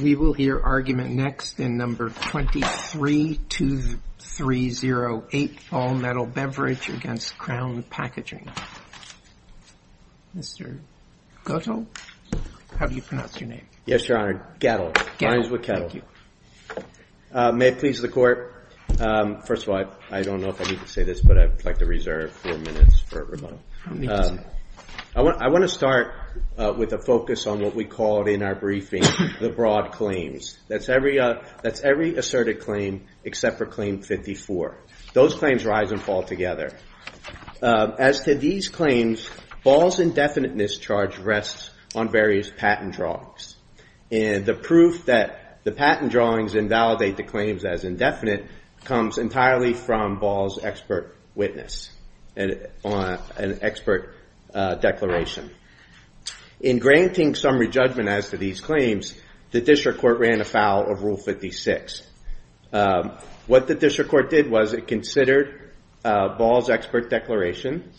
We will hear argument next in No. 232308, All Metal Beverage against Crown Packaging. Mr. Gettle? How do you pronounce your name? Yes, Your Honor. Gettle. Gettle. Thank you. May it please the Court. First of all, I don't know if I need to say this, but I'd like to reserve four minutes for rebuttal. I don't need to say it. I want to start with a focus on what we called in our briefing the broad claims. That's every asserted claim except for Claim 54. Those claims rise and fall together. As to these claims, Ball's indefinite mischarge rests on various patent drawings. And the proof that the patent drawings invalidate the claims as indefinite comes entirely from Ball's expert witness. On an expert declaration. In granting summary judgment as to these claims, the District Court ran afoul of Rule 56. What the District Court did was it considered Ball's expert declaration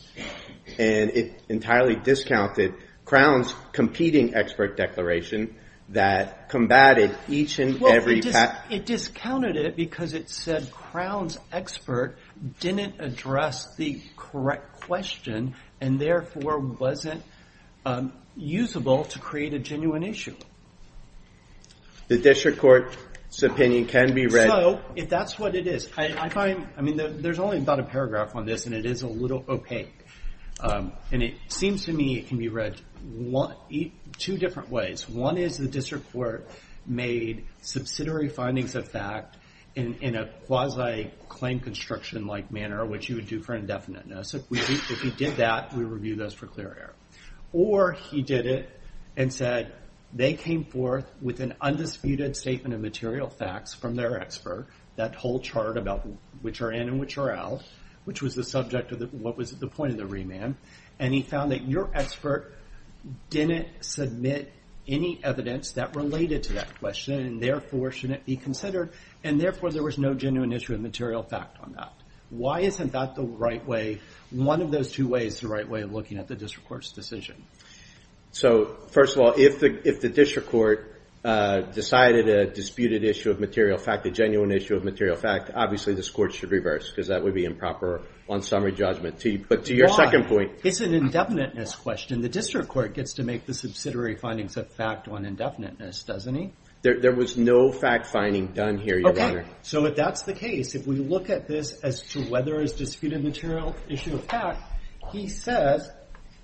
and it entirely discounted Crown's competing expert declaration that combated each and every patent. It discounted it because it said Crown's expert didn't address the correct question and therefore wasn't usable to create a genuine issue. The District Court's opinion can be read. So, if that's what it is. I find, I mean, there's only about a paragraph on this and it is a little opaque. And it seems to me it can be read two different ways. One is the District Court made subsidiary findings of fact in a quasi-claim construction-like manner, which you would do for indefiniteness. If we did that, we would review those for clear error. Or he did it and said they came forth with an undisputed statement of material facts from their expert. That whole chart about which are in and which are out. Which was the subject of what was the point of the remand. And he found that your expert didn't submit any evidence that related to that question and therefore shouldn't be considered. And therefore there was no genuine issue of material fact on that. Why isn't that the right way, one of those two ways, the right way of looking at the District Court's decision? So, first of all, if the District Court decided a disputed issue of material fact, a genuine issue of material fact, obviously this Court should reverse because that would be improper on summary judgment. But to your second point. Why? It's an indefiniteness question. The District Court gets to make the subsidiary findings of fact on indefiniteness, doesn't he? There was no fact finding done here, Your Honor. Okay, so if that's the case, if we look at this as to whether it's disputed material issue of fact, he says,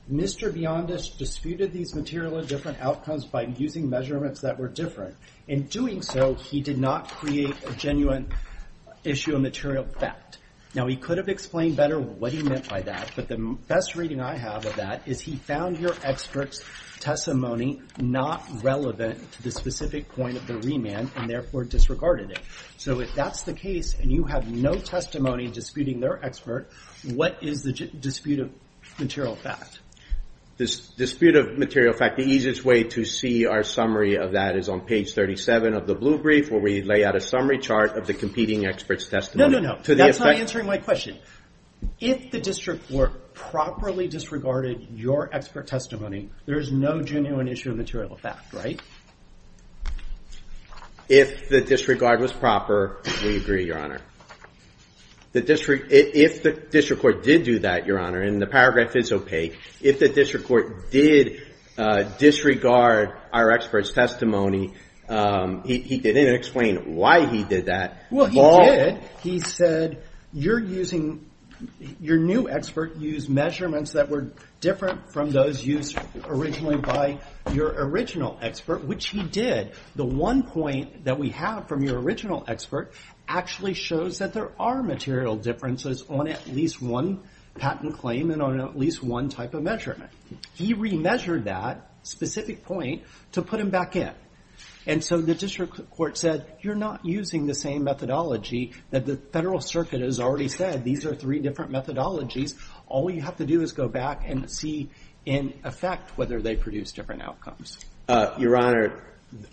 Mr. Biondis disputed these material and different outcomes by using measurements that were different. In doing so, he did not create a genuine issue of material fact. Now, he could have explained better what he meant by that, but the best reading I have of that is he found your expert's testimony not relevant to the specific point of the remand and therefore disregarded it. So, if that's the case and you have no testimony disputing their expert, what is the dispute of material fact? The dispute of material fact, the easiest way to see our summary of that is on page 37 of the blue brief where we lay out a summary chart of the competing expert's testimony. No, no, no. That's not answering my question. If the District Court properly disregarded your expert testimony, there's no genuine issue of material fact, right? If the disregard was proper, we agree, Your Honor. If the District Court did do that, Your Honor, and the paragraph is opaque, if the District Court did disregard our expert's testimony, he didn't explain why he did that. Well, he did. He said, you're using – your new expert used measurements that were different from those used originally by your original expert. Which he did. The one point that we have from your original expert actually shows that there are material differences on at least one patent claim and on at least one type of measurement. He remeasured that specific point to put him back in. And so the District Court said, you're not using the same methodology that the Federal Circuit has already said. These are three different methodologies. All you have to do is go back and see in effect whether they produce different outcomes. Your Honor,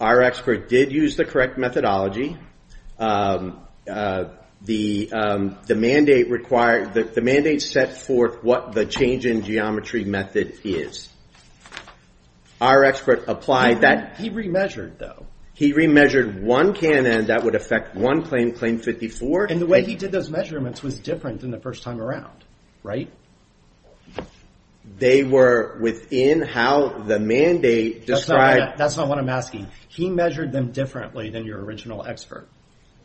our expert did use the correct methodology. The mandate required – the mandate set forth what the change in geometry method is. Our expert applied that. He remeasured, though. He remeasured one cannon that would affect one claim, Claim 54. And the way he did those measurements was different than the first time around, right? They were within how the mandate described – That's not what I'm asking. He measured them differently than your original expert.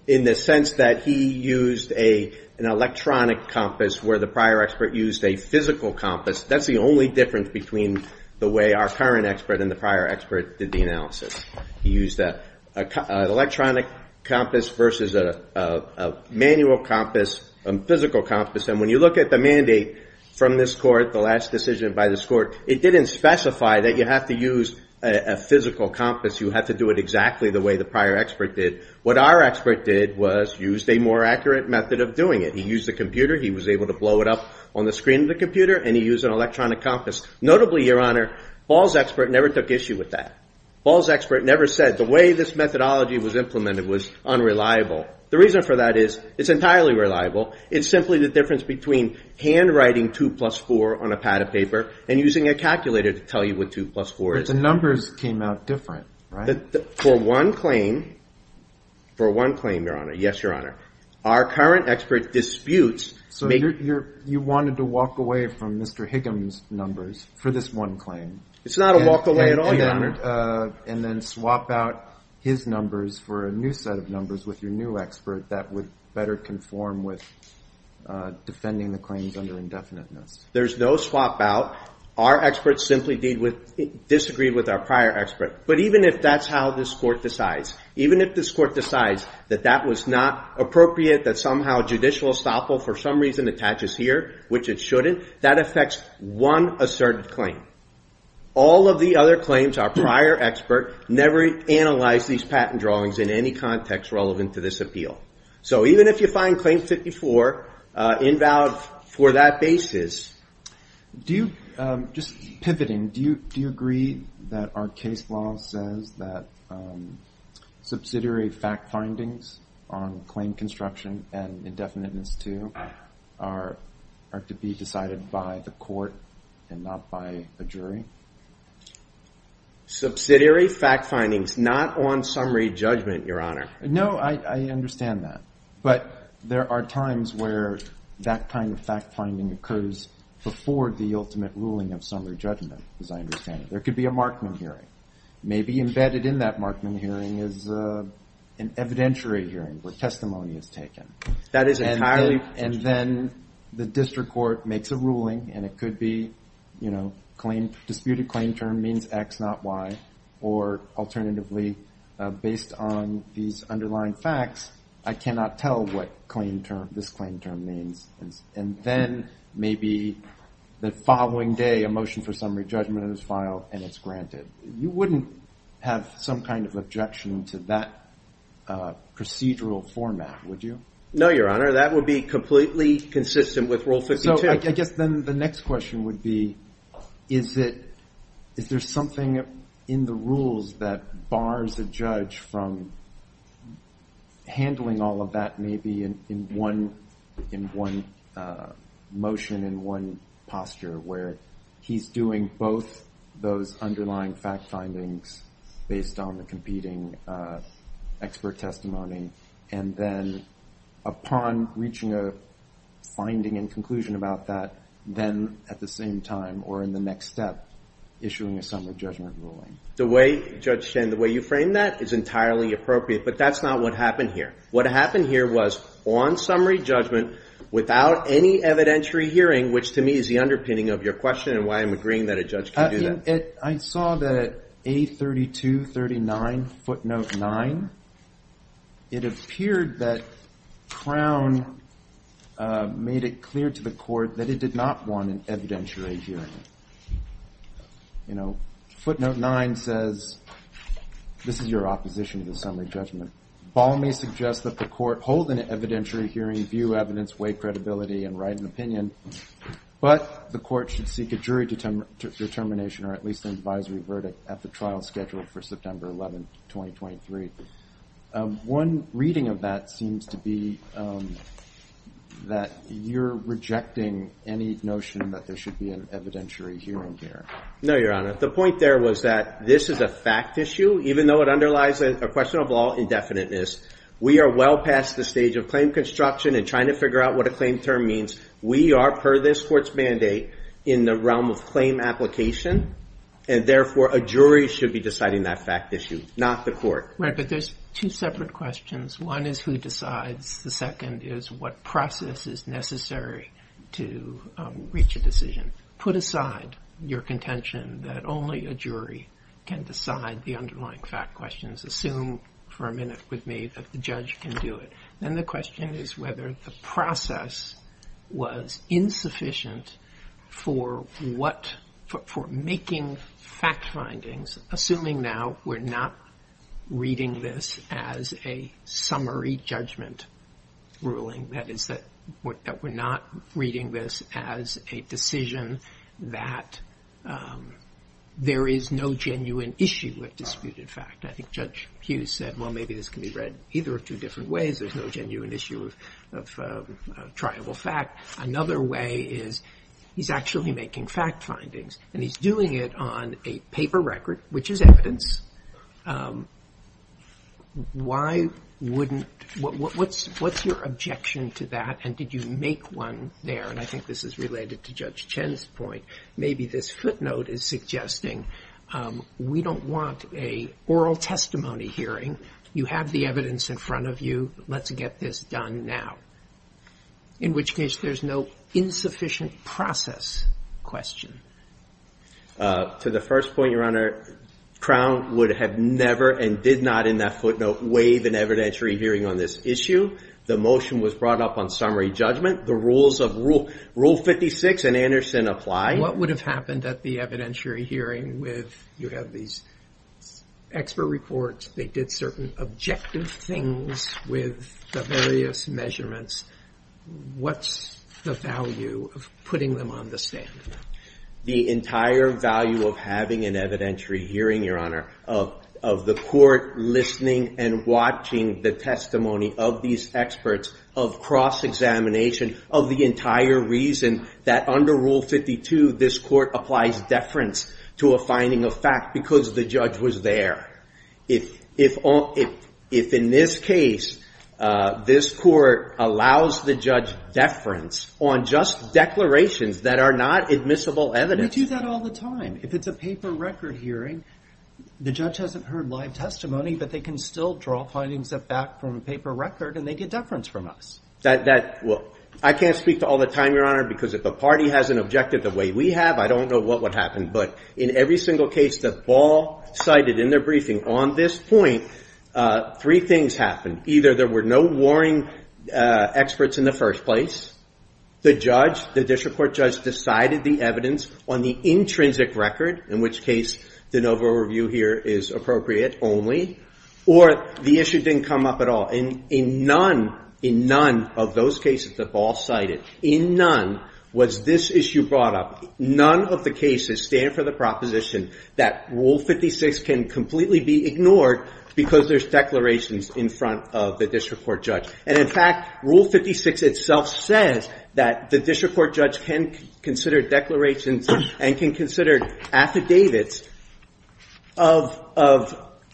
In the sense that he used an electronic compass where the prior expert used a physical compass. That's the only difference between the way our current expert and the prior expert did the analysis. He used an electronic compass versus a manual compass, a physical compass. And when you look at the mandate from this court, the last decision by this court, it didn't specify that you have to use a physical compass. You have to do it exactly the way the prior expert did. What our expert did was used a more accurate method of doing it. He used a computer. He was able to blow it up on the screen of the computer, and he used an electronic compass. Notably, your Honor, Paul's expert never took issue with that. Paul's expert never said the way this methodology was implemented was unreliable. The reason for that is it's entirely reliable. It's simply the difference between handwriting 2 plus 4 on a pad of paper and using a calculator to tell you what 2 plus 4 is. But the numbers came out different, right? For one claim, your Honor, yes, your Honor, our current expert disputes. So you wanted to walk away from Mr. Higgum's numbers for this one claim. It's not a walk away at all, your Honor. And then swap out his numbers for a new set of numbers with your new expert that would better conform with defending the claims under indefiniteness. There's no swap out. Our expert simply disagreed with our prior expert. But even if that's how this Court decides, even if this Court decides that that was not appropriate, that somehow judicial estoppel for some reason attaches here, which it shouldn't, that affects one asserted claim. All of the other claims, our prior expert never analyzed these patent drawings in any context relevant to this appeal. So even if you find Claim 54 invalid for that basis... Do you, just pivoting, do you agree that our case law says that subsidiary fact findings on claim construction and indefiniteness too are to be decided by the Court and not by a jury? Subsidiary fact findings not on summary judgment, your Honor. No, I understand that. But there are times where that kind of fact finding occurs before the ultimate ruling of summary judgment, as I understand it. There could be a Markman hearing. Maybe embedded in that Markman hearing is an evidentiary hearing where testimony is taken. That is entirely... And then the District Court makes a ruling and it could be disputed claim term means X, not Y. Or alternatively, based on these underlying facts, I cannot tell what this claim term means. And then maybe the following day a motion for summary judgment is filed and it's granted. You wouldn't have some kind of objection to that procedural format, would you? No, your Honor. That would be completely consistent with Rule 52. So I guess then the next question would be, is there something in the rules that bars a judge from handling all of that maybe in one motion, in one posture, where he's doing both those underlying fact findings based on the competing expert testimony and then upon reaching a finding and conclusion about that, then at the same time or in the next step, issuing a summary judgment ruling? The way, Judge Shen, the way you frame that is entirely appropriate, but that's not what happened here. What happened here was on summary judgment without any evidentiary hearing, which to me is the underpinning of your question and why I'm agreeing that a judge can do that. I saw that A3239 footnote 9, it appeared that Crown made it clear to the court that it did not want an evidentiary hearing. Footnote 9 says, this is your opposition to the summary judgment. Ball may suggest that the court hold an evidentiary hearing, view evidence, weigh credibility, and write an opinion, but the court should seek a jury determination or at least an advisory verdict at the trial scheduled for September 11, 2023. One reading of that seems to be that you're rejecting any notion that there should be an evidentiary hearing here. No, Your Honor. The point there was that this is a fact issue, even though it underlies a question of all indefiniteness. We are well past the stage of claim construction and trying to figure out what a claim term means. We are, per this court's mandate, in the realm of claim application, and therefore a jury should be deciding that fact issue, not the court. Right, but there's two separate questions. One is who decides. The second is what process is necessary to reach a decision. Put aside your contention that only a jury can decide the underlying fact questions. Assume for a minute with me that the judge can do it. Then the question is whether the process was insufficient for making fact findings, assuming now we're not reading this as a summary judgment ruling, that is that we're not reading this as a decision that there is no genuine issue with disputed fact. I think Judge Hughes said, well, maybe this can be read either of two different ways. There's no genuine issue of triable fact. Another way is he's actually making fact findings, and he's doing it on a paper record, which is evidence. Why wouldn't, what's your objection to that, and did you make one there? And I think this is related to Judge Chen's point. Maybe this footnote is suggesting we don't want an oral testimony hearing. You have the evidence in front of you. Let's get this done now, in which case there's no insufficient process question. To the first point, Your Honor, Crown would have never and did not in that footnote waive an evidentiary hearing on this issue. The motion was brought up on summary judgment. The rules of Rule 56 in Anderson apply. What would have happened at the evidentiary hearing with you have these expert reports, they did certain objective things with the various measurements. What's the value of putting them on the stand? The entire value of having an evidentiary hearing, Your Honor, of the court listening and watching the testimony of these experts, of cross-examination, of the entire reason that under Rule 52 this court applies deference to a finding of fact because the judge was there. If in this case this court allows the judge deference on just declarations that are not admissible evidence... We do that all the time. If it's a paper record hearing, the judge hasn't heard live testimony, but they can still draw findings back from a paper record and they get deference from us. I can't speak to all the time, Your Honor, because if the party has an objective the way we have, I don't know what would happen. But in every single case that Ball cited in their briefing on this point, three things happened. Either there were no warring experts in the first place, the district court judge decided the evidence on the intrinsic record, in which case the NOVA review here is appropriate only, or the issue didn't come up at all. In none of those cases that Ball cited, in none was this issue brought up. None of the cases stand for the proposition that Rule 56 can completely be ignored because there's declarations in front of the district court judge. And in fact, Rule 56 itself says that the district court judge can consider declarations and can consider affidavits of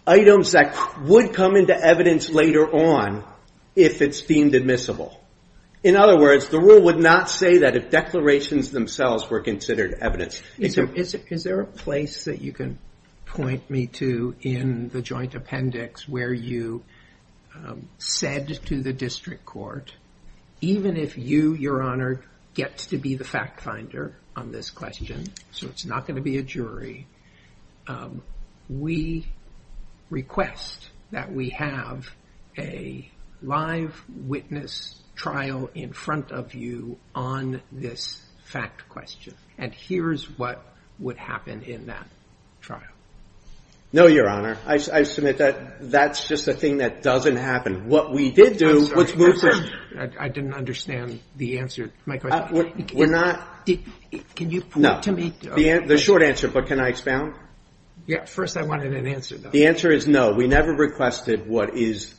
items that would come into evidence later on if it's deemed admissible. In other words, the rule would not say that if declarations themselves were considered evidence. Is there a place that you can point me to in the joint appendix where you said to the district court, even if you, Your Honor, get to be the fact finder on this question, so it's not going to be a jury, we request that we have a live witness trial in front of you on this fact question. And here's what would happen in that trial. No, Your Honor. I submit that that's just a thing that doesn't happen. What we did do... I didn't understand the answer to my question. We're not... Can you point to me... The short answer, but can I expound? Yeah, first I wanted an answer. The answer is no. We never requested what is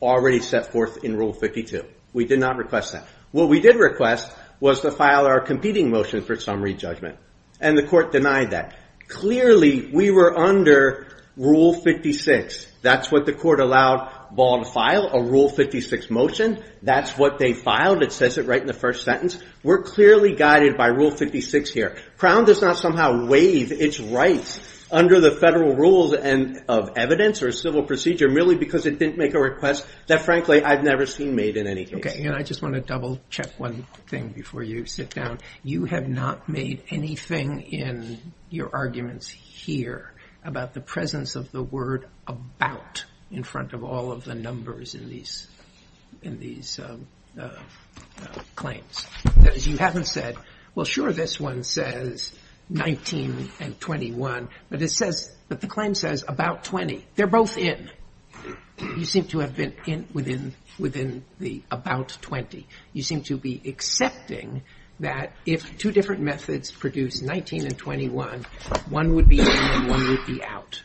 already set forth in Rule 52. We did not request that. What we did request was to file our competing motion for summary judgment, and the court denied that. Clearly, we were under Rule 56. That's what the court allowed Ball to file, a Rule 56 motion. That's what they filed. It says it right in the first sentence. We're clearly guided by Rule 56 here. Crown does not somehow waive its rights under the federal rules of evidence or civil procedure merely because it didn't make a request that, frankly, I've never seen made in any case. Okay, and I just want to double-check one thing before you sit down. You have not made anything in your arguments here about the presence of the word about in front of all of the numbers in these claims. That is, you haven't said, well, sure, this one says 19 and 21, but the claim says about 20. They're both in. You seem to have been in within the about 20. You seem to be accepting that if two different methods produce 19 and 21, one would be in and one would be out.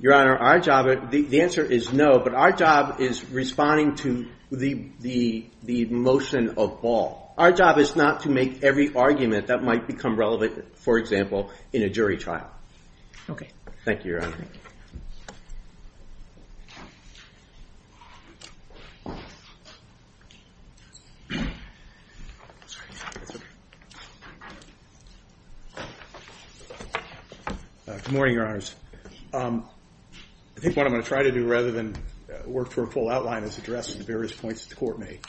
Your Honor, the answer is no, but our job is responding to the motion of ball. Our job is not to make every argument that might become relevant, for example, in a jury trial. Okay. Thank you, Your Honor. Good morning, Your Honors. I think what I'm going to try to do rather than work through a full outline is address the various points that the Court made.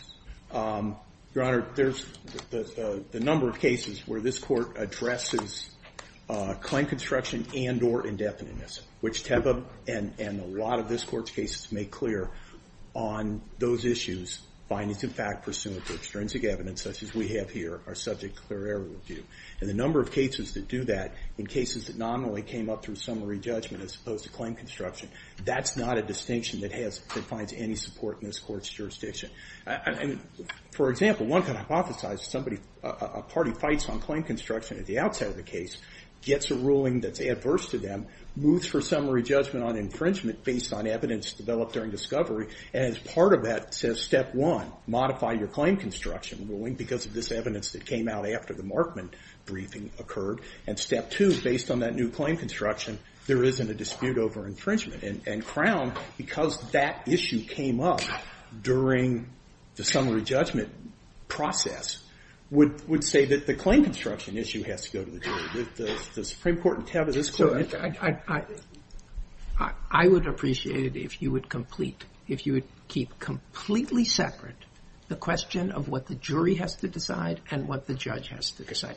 Your Honor, there's the number of cases where this Court addresses claim construction and or indefiniteness, which Tebbe and a lot of this Court's cases make clear on those issues, findings of fact, pursuant to extrinsic evidence, such as we have here, are subject to clear error review. And the number of cases that do that in cases that nominally came up through summary judgment as opposed to claim construction, that's not a distinction that finds any support in this Court's jurisdiction. For example, one could hypothesize a party fights on claim construction at the outside of the case, gets a ruling that's adverse to them, moves for summary judgment on infringement based on evidence developed during discovery, and as part of that says, step one, modify your claim construction ruling because of this evidence that came out after the Markman briefing occurred, and step two, based on that new claim construction, there isn't a dispute over infringement. And Crown, because that issue came up during the summary judgment process, would say that the claim construction issue has to go to the jury. The Supreme Court tab of this Court... I would appreciate it if you would complete, if you would keep completely separate the question of what the jury has to decide and what the judge has to decide.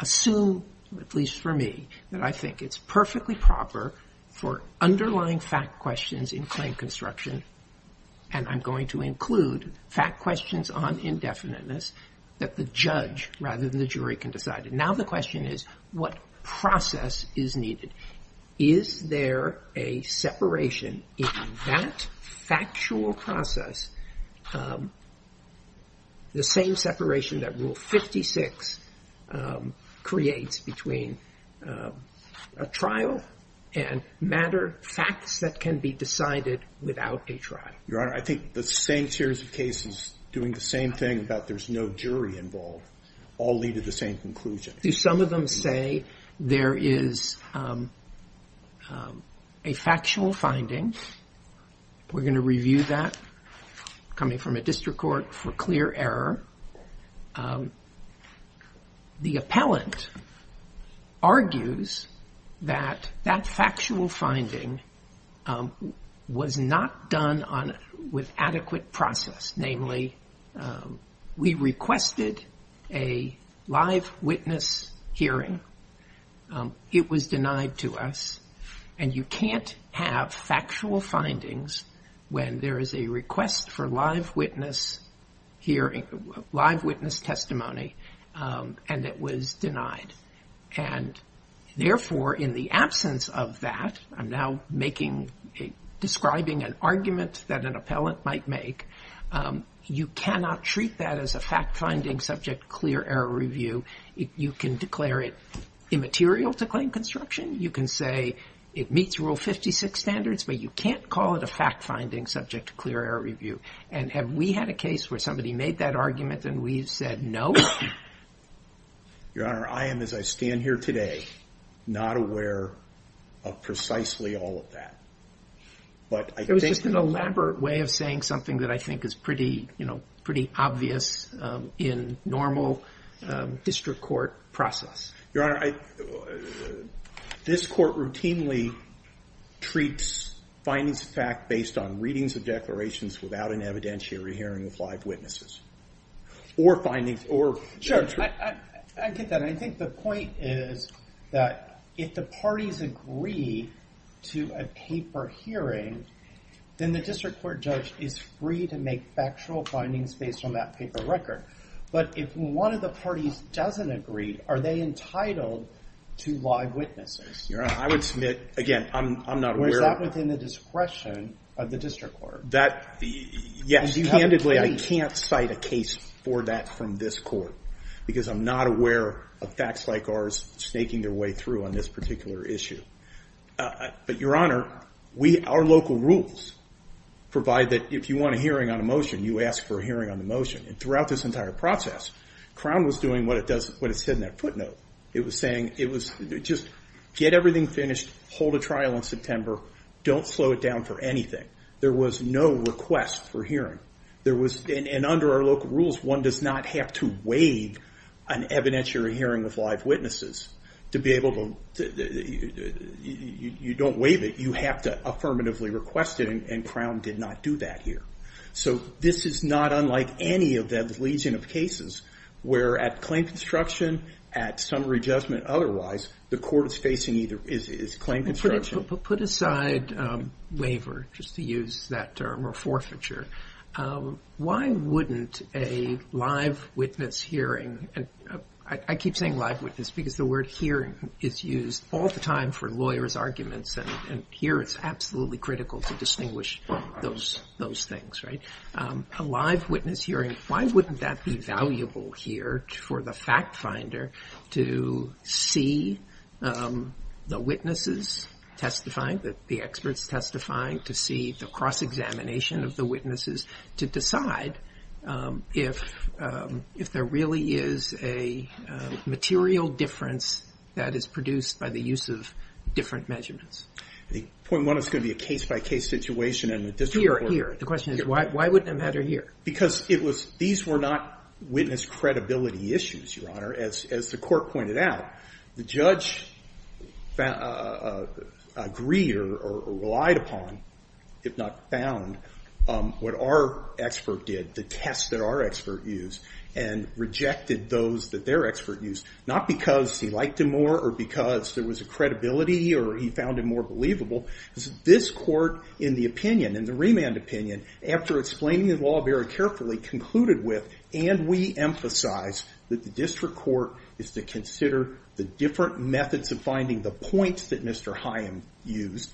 Assume, at least for me, that I think it's perfectly proper for underlying fact questions in claim construction, and I'm going to include fact questions on indefiniteness, that the judge rather than the jury can decide. Now the question is, what process is needed? Is there a separation in that factual process, the same separation that Rule 56 creates between a trial and matter, facts that can be decided without a trial? Your Honor, I think the same series of cases doing the same thing about there's no jury involved all lead to the same conclusion. Do some of them say there is a factual finding? We're going to review that. Coming from a district court for clear error. The appellant argues that that factual finding was not done with adequate process, namely we requested a live witness hearing. It was denied to us, and you can't have factual findings when there is a request for live witness testimony, and it was denied. Therefore, in the absence of that, I'm now describing an argument that an appellant might make, you cannot treat that as a fact-finding subject to clear error review. You can declare it immaterial to claim construction. You can say it meets Rule 56 standards, but you can't call it a fact-finding subject to clear error review. And have we had a case where somebody made that argument and we've said no? Your Honor, I am, as I stand here today, not aware of precisely all of that. It was just an elaborate way of saying something that I think is pretty obvious in normal district court process. Your Honor, this court routinely treats findings of fact based on readings of declarations without an evidentiary hearing of live witnesses. Sure, I get that. I think the point is that if the parties agree to a paper hearing, then the district court judge is free to make factual findings based on that paper record. But if one of the parties doesn't agree, are they entitled to live witnesses? Your Honor, I would submit, again, I'm not aware of that. Was that within the discretion of the district court? Yes, candidly, I can't cite a case for that from this court because I'm not aware of facts like ours snaking their way through on this particular issue. But, Your Honor, our local rules provide that if you want a hearing on a motion, you ask for a hearing on the motion. Throughout this entire process, Crown was doing what it said in that footnote. It was saying just get everything finished, hold a trial in September, don't slow it down for anything. There was no request for hearing. And under our local rules, one does not have to waive an evidentiary hearing of live witnesses to be able to... You don't waive it, you have to affirmatively request it, and Crown did not do that here. So this is not unlike any of the legion of cases where at claim construction, at summary judgment otherwise, the court is facing either claim construction... Put aside waiver, just to use that term, or forfeiture. Why wouldn't a live witness hearing... And I keep saying live witness because the word hearing is used all the time for lawyers' arguments, and here it's absolutely critical to distinguish those things, right? A live witness hearing, why wouldn't that be valuable here for the fact finder to see the witnesses testifying, the experts testifying, to see the cross-examination of the witnesses, to decide if there really is a material difference that is produced by the use of different measurements. Point one, it's going to be a case-by-case situation... Here, here. The question is, why wouldn't it matter here? Because these were not witness credibility issues, Your Honor. As the court pointed out, the judge agreed or relied upon, if not found, what our expert did, the tests that our expert used, and rejected those that their expert used, not because he liked them more or because there was a credibility or he found them more believable. This court, in the opinion, in the remand opinion, after explaining the law very carefully, concluded with, and we emphasize, that the district court is to consider the different methods of finding the points that Mr. Hyam used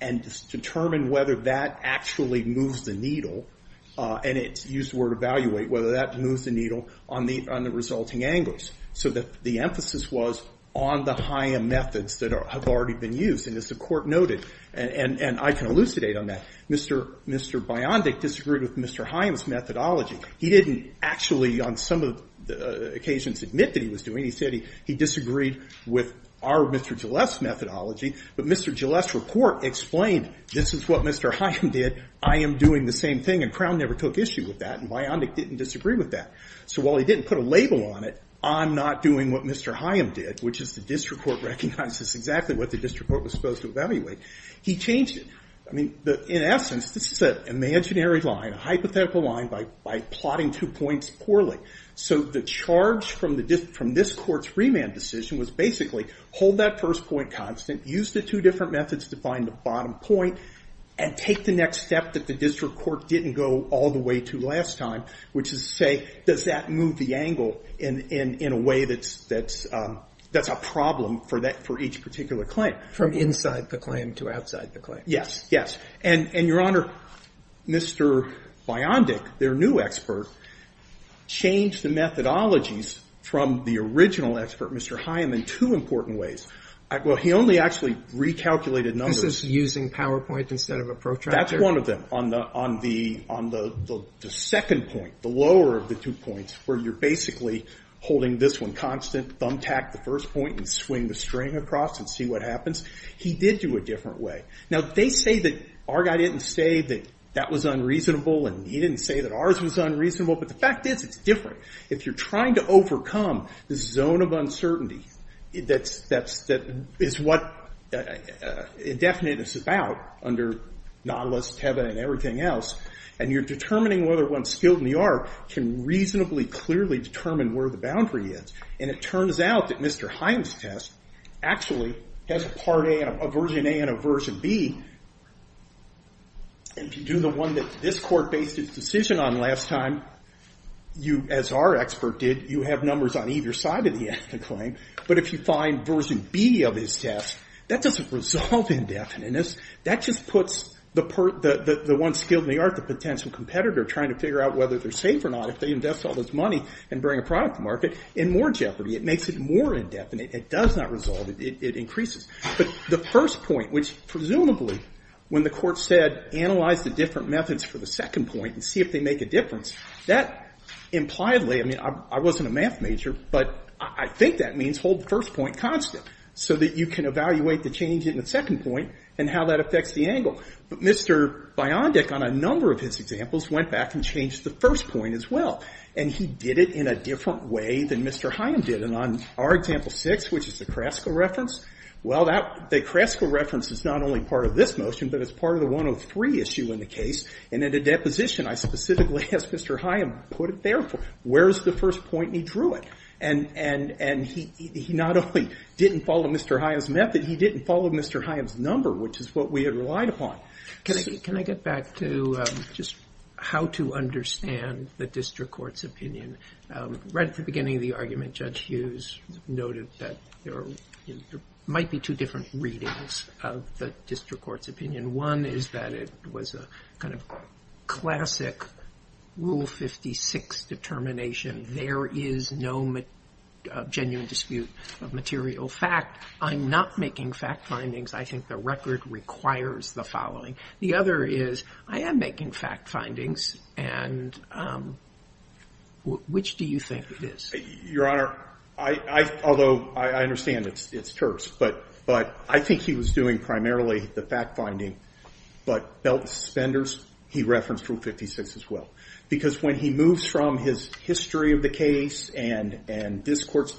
and determine whether that actually moves the needle, and it's used the word evaluate, whether that moves the needle on the resulting angles, so that the emphasis was on the Hyam methods that have already been used. And as the court noted, and I can elucidate on that, Mr. Biondic disagreed with Mr. Hyam's methodology. He didn't actually, on some of the occasions, admit that he was doing it. He said he disagreed with our Mr. Gilles' methodology, but Mr. Gilles' report explained, this is what Mr. Hyam did, I am doing the same thing, and Crown never took issue with that, and Biondic didn't disagree with that. So while he didn't put a label on it, I'm not doing what Mr. Hyam did, which is the district court recognizes exactly what the district court was supposed to evaluate. He changed it. In essence, this is an imaginary line, a hypothetical line, by plotting two points poorly. So the charge from this court's remand decision was basically, hold that first point constant, use the two different methods to find the bottom point, and take the next step that the district court didn't go all the way to last time, which is to say, does that move the angle in a way that's a problem for each particular claim? From inside the claim to outside the claim. Yes. Yes. And Your Honor, Mr. Biondic, their new expert, changed the methodologies from the original expert, Mr. Hyam, in two important ways. Well, he only actually recalculated numbers. This is using PowerPoint instead of a protractor? That's one of them. On the second point, the lower of the two points, where you're basically holding this one constant, thumbtack the first point, and swing the string across and see what happens. He did do it a different way. Now, they say that our guy didn't say that that was unreasonable, and he didn't say that ours was unreasonable. But the fact is, it's different. If you're trying to overcome the zone of uncertainty that is what indefiniteness is about under Nautilus, Teba, and everything else, and you're determining whether one's skilled in the art, can reasonably clearly determine where the boundary is. And it turns out that Mr. Hyam's test actually has a version A and a version B. If you do the one that this court based its decision on last time, as our expert did, you have numbers on either side of the end of the claim. But if you find version B of his test, that doesn't resolve indefiniteness. That just puts the one skilled in the art, the potential competitor, trying to figure out whether they're safe or not. If they invest all this money and bring a product to market, in more jeopardy. It makes it more indefinite. It does not resolve it. It increases. But the first point, which presumably, when the court said, analyze the different methods for the second point and see if they make a difference, that impliedly, I mean, I wasn't a math major, but I think that means hold the first point constant. So that you can evaluate the change in the second point and how that affects the angle. But Mr. Biondic, on a number of his examples, went back and changed the first point as well. And he did it in a different way than Mr. Hyam did. And on our example six, which is the Krasko reference, well, the Krasko reference is not only part of this motion, but it's part of the 103 issue in the case. And in the deposition, I specifically asked Mr. Hyam, put it there. Where's the first point he drew it? And he not only didn't follow Mr. Hyam's method, he didn't follow Mr. Hyam's number, which is what we had relied upon. Can I get back to just how to understand the district court's opinion? Right at the beginning of the argument, Judge Hughes noted that there might be two different readings of the district court's opinion. One is that it was a kind of classic Rule 56 determination. There is no genuine dispute of material fact. I'm not making fact findings. I think the record requires the following. The other is, I am making fact findings. And which do you think it is? Your Honor, although I understand it's terse, but I think he was doing primarily the fact finding. But belt suspenders, he referenced Rule 56 as well. Because when he moves from his history of the case, and this court's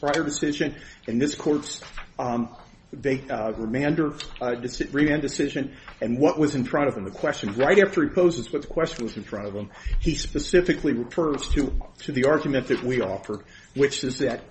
prior decision, and this court's remand decision, and what was in front of him, the question. Right after he poses what the question was in front of him, he specifically refers to the argument that we offered, which is that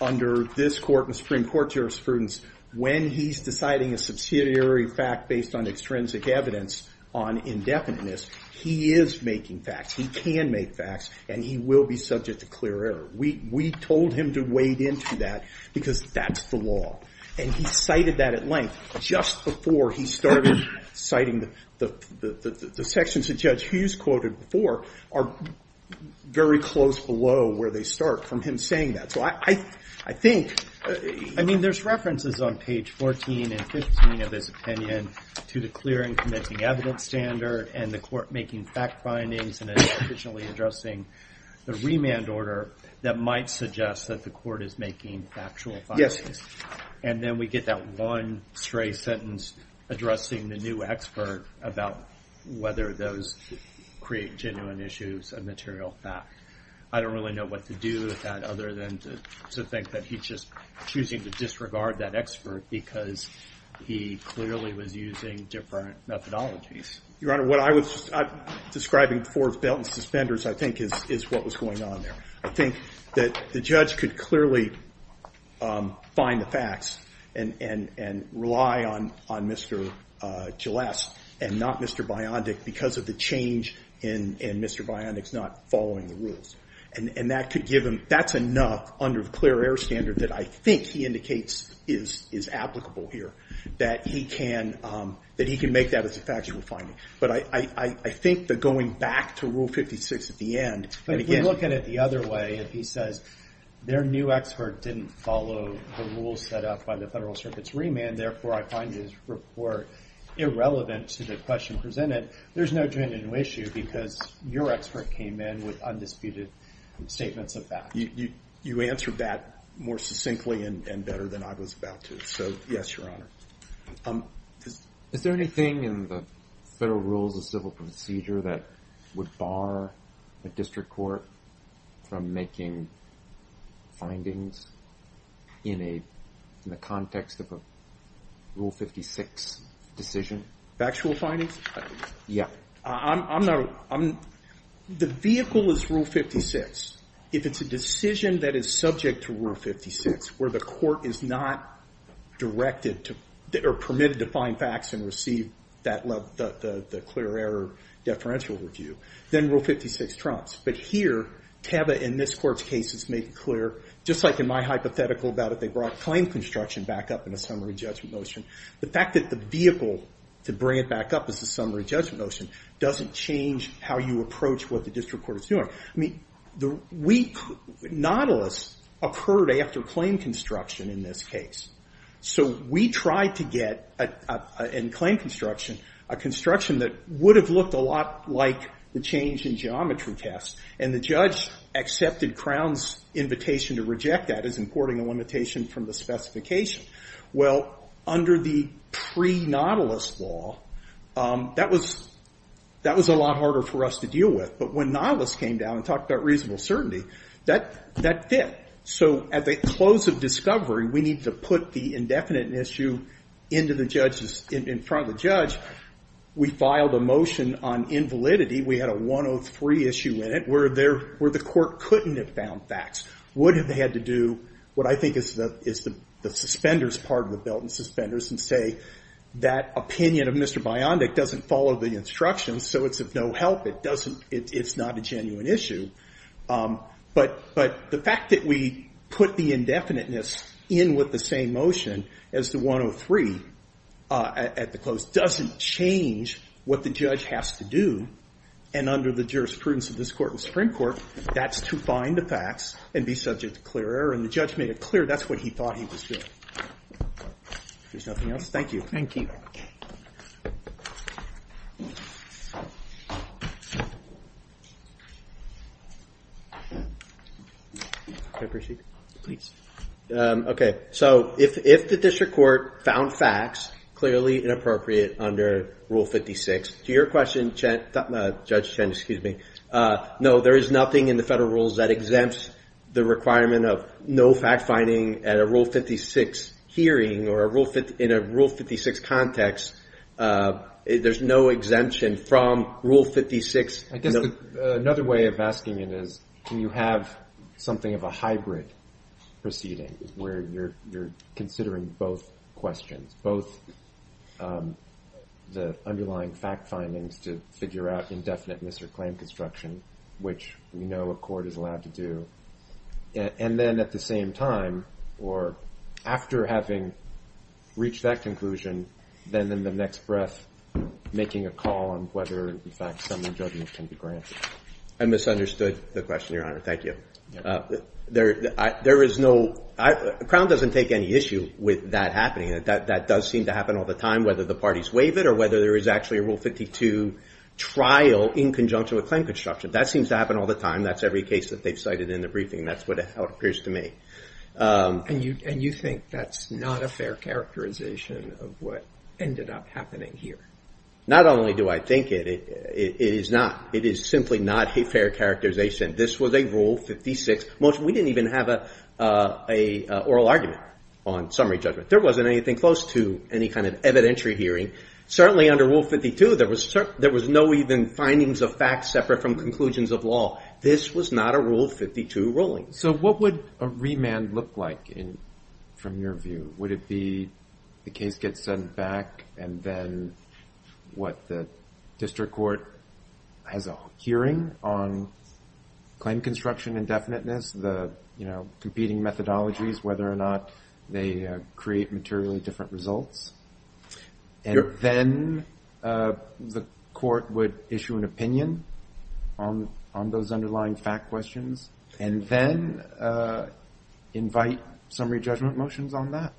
under this court and Supreme Court jurisprudence, when he's deciding a subsidiary fact based on extrinsic evidence on indefiniteness, he is making facts. He can make facts. And he will be subject to clear error. We told him to wade into that, because that's the law. And he cited that at length just before he started citing the sections that Judge Hughes quoted before are very close below where they start from him saying that. So I think. I mean, there's references on page 14 and 15 of his opinion to the clear and convincing evidence standard, and the court making fact findings, and then sufficiently addressing the remand order that might suggest that the court is making factual findings. Yes. And then we get that one stray sentence addressing the new expert about whether those create genuine issues of material fact. I don't really know what to do with that, other than to think that he's just choosing to disregard that expert because he clearly was using different methodologies. Your Honor, what I was describing before was belt and suspenders, I think, is what was going on there. I think that the judge could clearly find the facts and rely on Mr. Gillesse and not Mr. Biondic because of the change in Mr. Biondic's not following the rules. And that could give him. That's enough under the clear air standard that I think he indicates is applicable here, that he can make that as a factual finding. But I think that going back to Rule 56 at the end. But if we look at it the other way, if he says their new expert didn't follow the rules set up by the Federal Circuit's remand, therefore I find his report irrelevant to the question presented, there's no genuine issue because your expert came in with undisputed statements of facts. You answered that more succinctly and better than I was about to. So yes, Your Honor. Is there anything in the Federal Rules of Civil Procedure that would bar a district court from making findings in the context of a Rule 56 decision? Factual findings? Yeah. The vehicle is Rule 56. If it's a decision that is subject to Rule 56, where the court is not permitted to find facts and receive the clear air deferential review, then Rule 56 trumps. But here, Teva in this court's case has made it clear, just like in my hypothetical about it, they brought claim construction back up in a summary judgment motion. The fact that the vehicle to bring it back up is the summary judgment motion doesn't change how you approach what the district court is doing. Nautilus occurred after claim construction in this case. So we tried to get, in claim construction, a construction that would have looked a lot like the change in geometry test. And the judge accepted Crown's invitation to reject that as importing a limitation from the specification. Well, under the pre-Nautilus law, that was a lot harder for us to deal with. But when Nautilus came down and talked about reasonable certainty, that fit. So at the close of discovery, we need to put the indefinite issue in front of the judge. We filed a motion on invalidity. We had a 103 issue in it, where the court couldn't have found facts. Would have had to do what I think is the suspenders part of the belt and suspenders and say that opinion of Mr. Biondic doesn't follow the instructions, so it's of no help. It's not a genuine issue. But the fact that we put the indefiniteness in with the same motion as the 103 at the close doesn't change what the judge has to do. And under the jurisprudence of this court and Supreme Court, that's to find the facts. And be subject to clear error. And the judge made it clear that's what he thought he was doing. If there's nothing else, thank you. Thank you. May I proceed? Please. OK. So if the district court found facts clearly inappropriate under Rule 56, to your question, Judge Chen, excuse me, no, there is nothing in the federal rules that exempts the requirement of no fact finding at a Rule 56 hearing or in a Rule 56 context. There's no exemption from Rule 56. I guess another way of asking it is, can you have something of a hybrid proceeding where you're considering both questions, both the underlying fact findings to figure out indefiniteness or claim construction, which we know a court is allowed to do. And then at the same time, or after having reached that conclusion, then in the next breath, making a call on whether, in fact, some of the judgment can be granted. I misunderstood the question, Your Honor. Thank you. There is no, Crown doesn't take any issue with that happening. That does seem to happen all the time, whether the parties waive it or whether there is actually a Rule 52 trial in conjunction with claim construction. That seems to happen all the time. That's every case that they've cited in the briefing. That's how it appears to me. And you think that's not a fair characterization of what ended up happening here? Not only do I think it, it is not. It is simply not a fair characterization. This was a Rule 56 motion. We didn't even have an oral argument on summary judgment. There wasn't anything close to any kind of evidentiary hearing. Certainly under Rule 52, there was no even findings of facts separate from conclusions of law. This was not a Rule 52 ruling. So what would a remand look like from your view? Would it be the case gets sent back and then what, the district court has a hearing on claim construction indefiniteness, the competing methodologies, whether or not they create materially different results? And then the court would issue an opinion on those underlying fact questions and then invite summary judgment motions on that?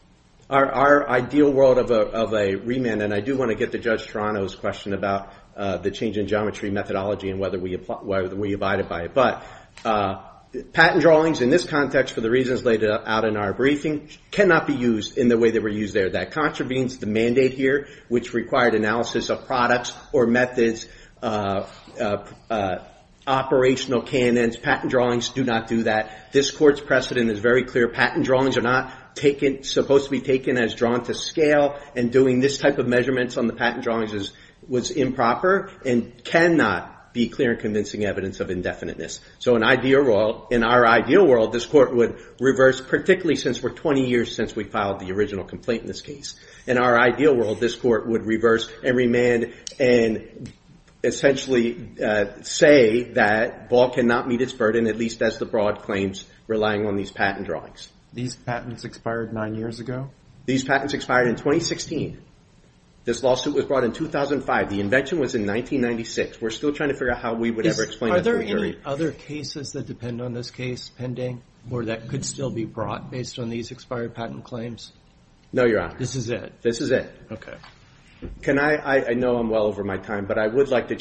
Our ideal world of a remand, and I do want to get to Judge Toronto's question about the change in geometry methodology and whether we abided by it. But patent drawings in this context for the reasons laid out in our briefing cannot be used in the way they were used there. That contravenes the mandate here, which required analysis of products or methods, operational canons, patent drawings do not do that. This court's precedent is very clear. Patent drawings are not supposed to be taken as drawn to scale and doing this type of measurements on the patent drawings was improper and cannot be clear and convincing evidence of indefiniteness. So in our ideal world, this court would reverse, particularly since we're 20 years since we filed the original complaint in this case. In our ideal world, this court would reverse and remand and essentially say that Ball cannot meet its burden, at least as the broad claims relying on these patent drawings. These patents expired nine years ago? These patents expired in 2016. This lawsuit was brought in 2005. The invention was in 1996. We're still trying to figure out how we would ever explain that to a jury. Are there any other cases that depend on this case pending or that could still be brought based on these expired patent claims? No, Your Honor. This is it? This is it. Okay. I know I'm well over my time, but I would like to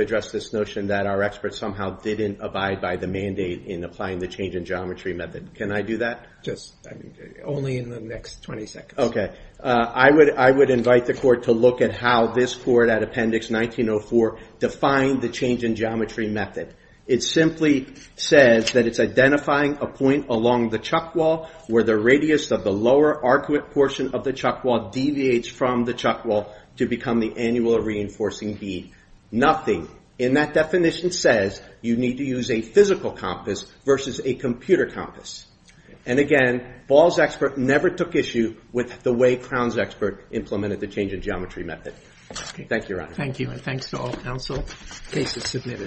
address this notion that our experts somehow didn't abide by the mandate in applying the change in geometry method. Can I do that? Only in the next 20 seconds. Okay. I would invite the court to look at how this court at Appendix 1904 defined the change in geometry method. It simply says that it's identifying a point along the chuck wall where the radius of the lower arcuate portion of the chuck wall deviates from the chuck wall to become the annual reinforcing bead. Nothing in that definition says you need to use a physical compass versus a computer compass. And again, Ball's expert never took issue with the way Crown's expert implemented the change in geometry method. Thank you, Your Honor. Thank you, and thanks to all counsel. Case is submitted.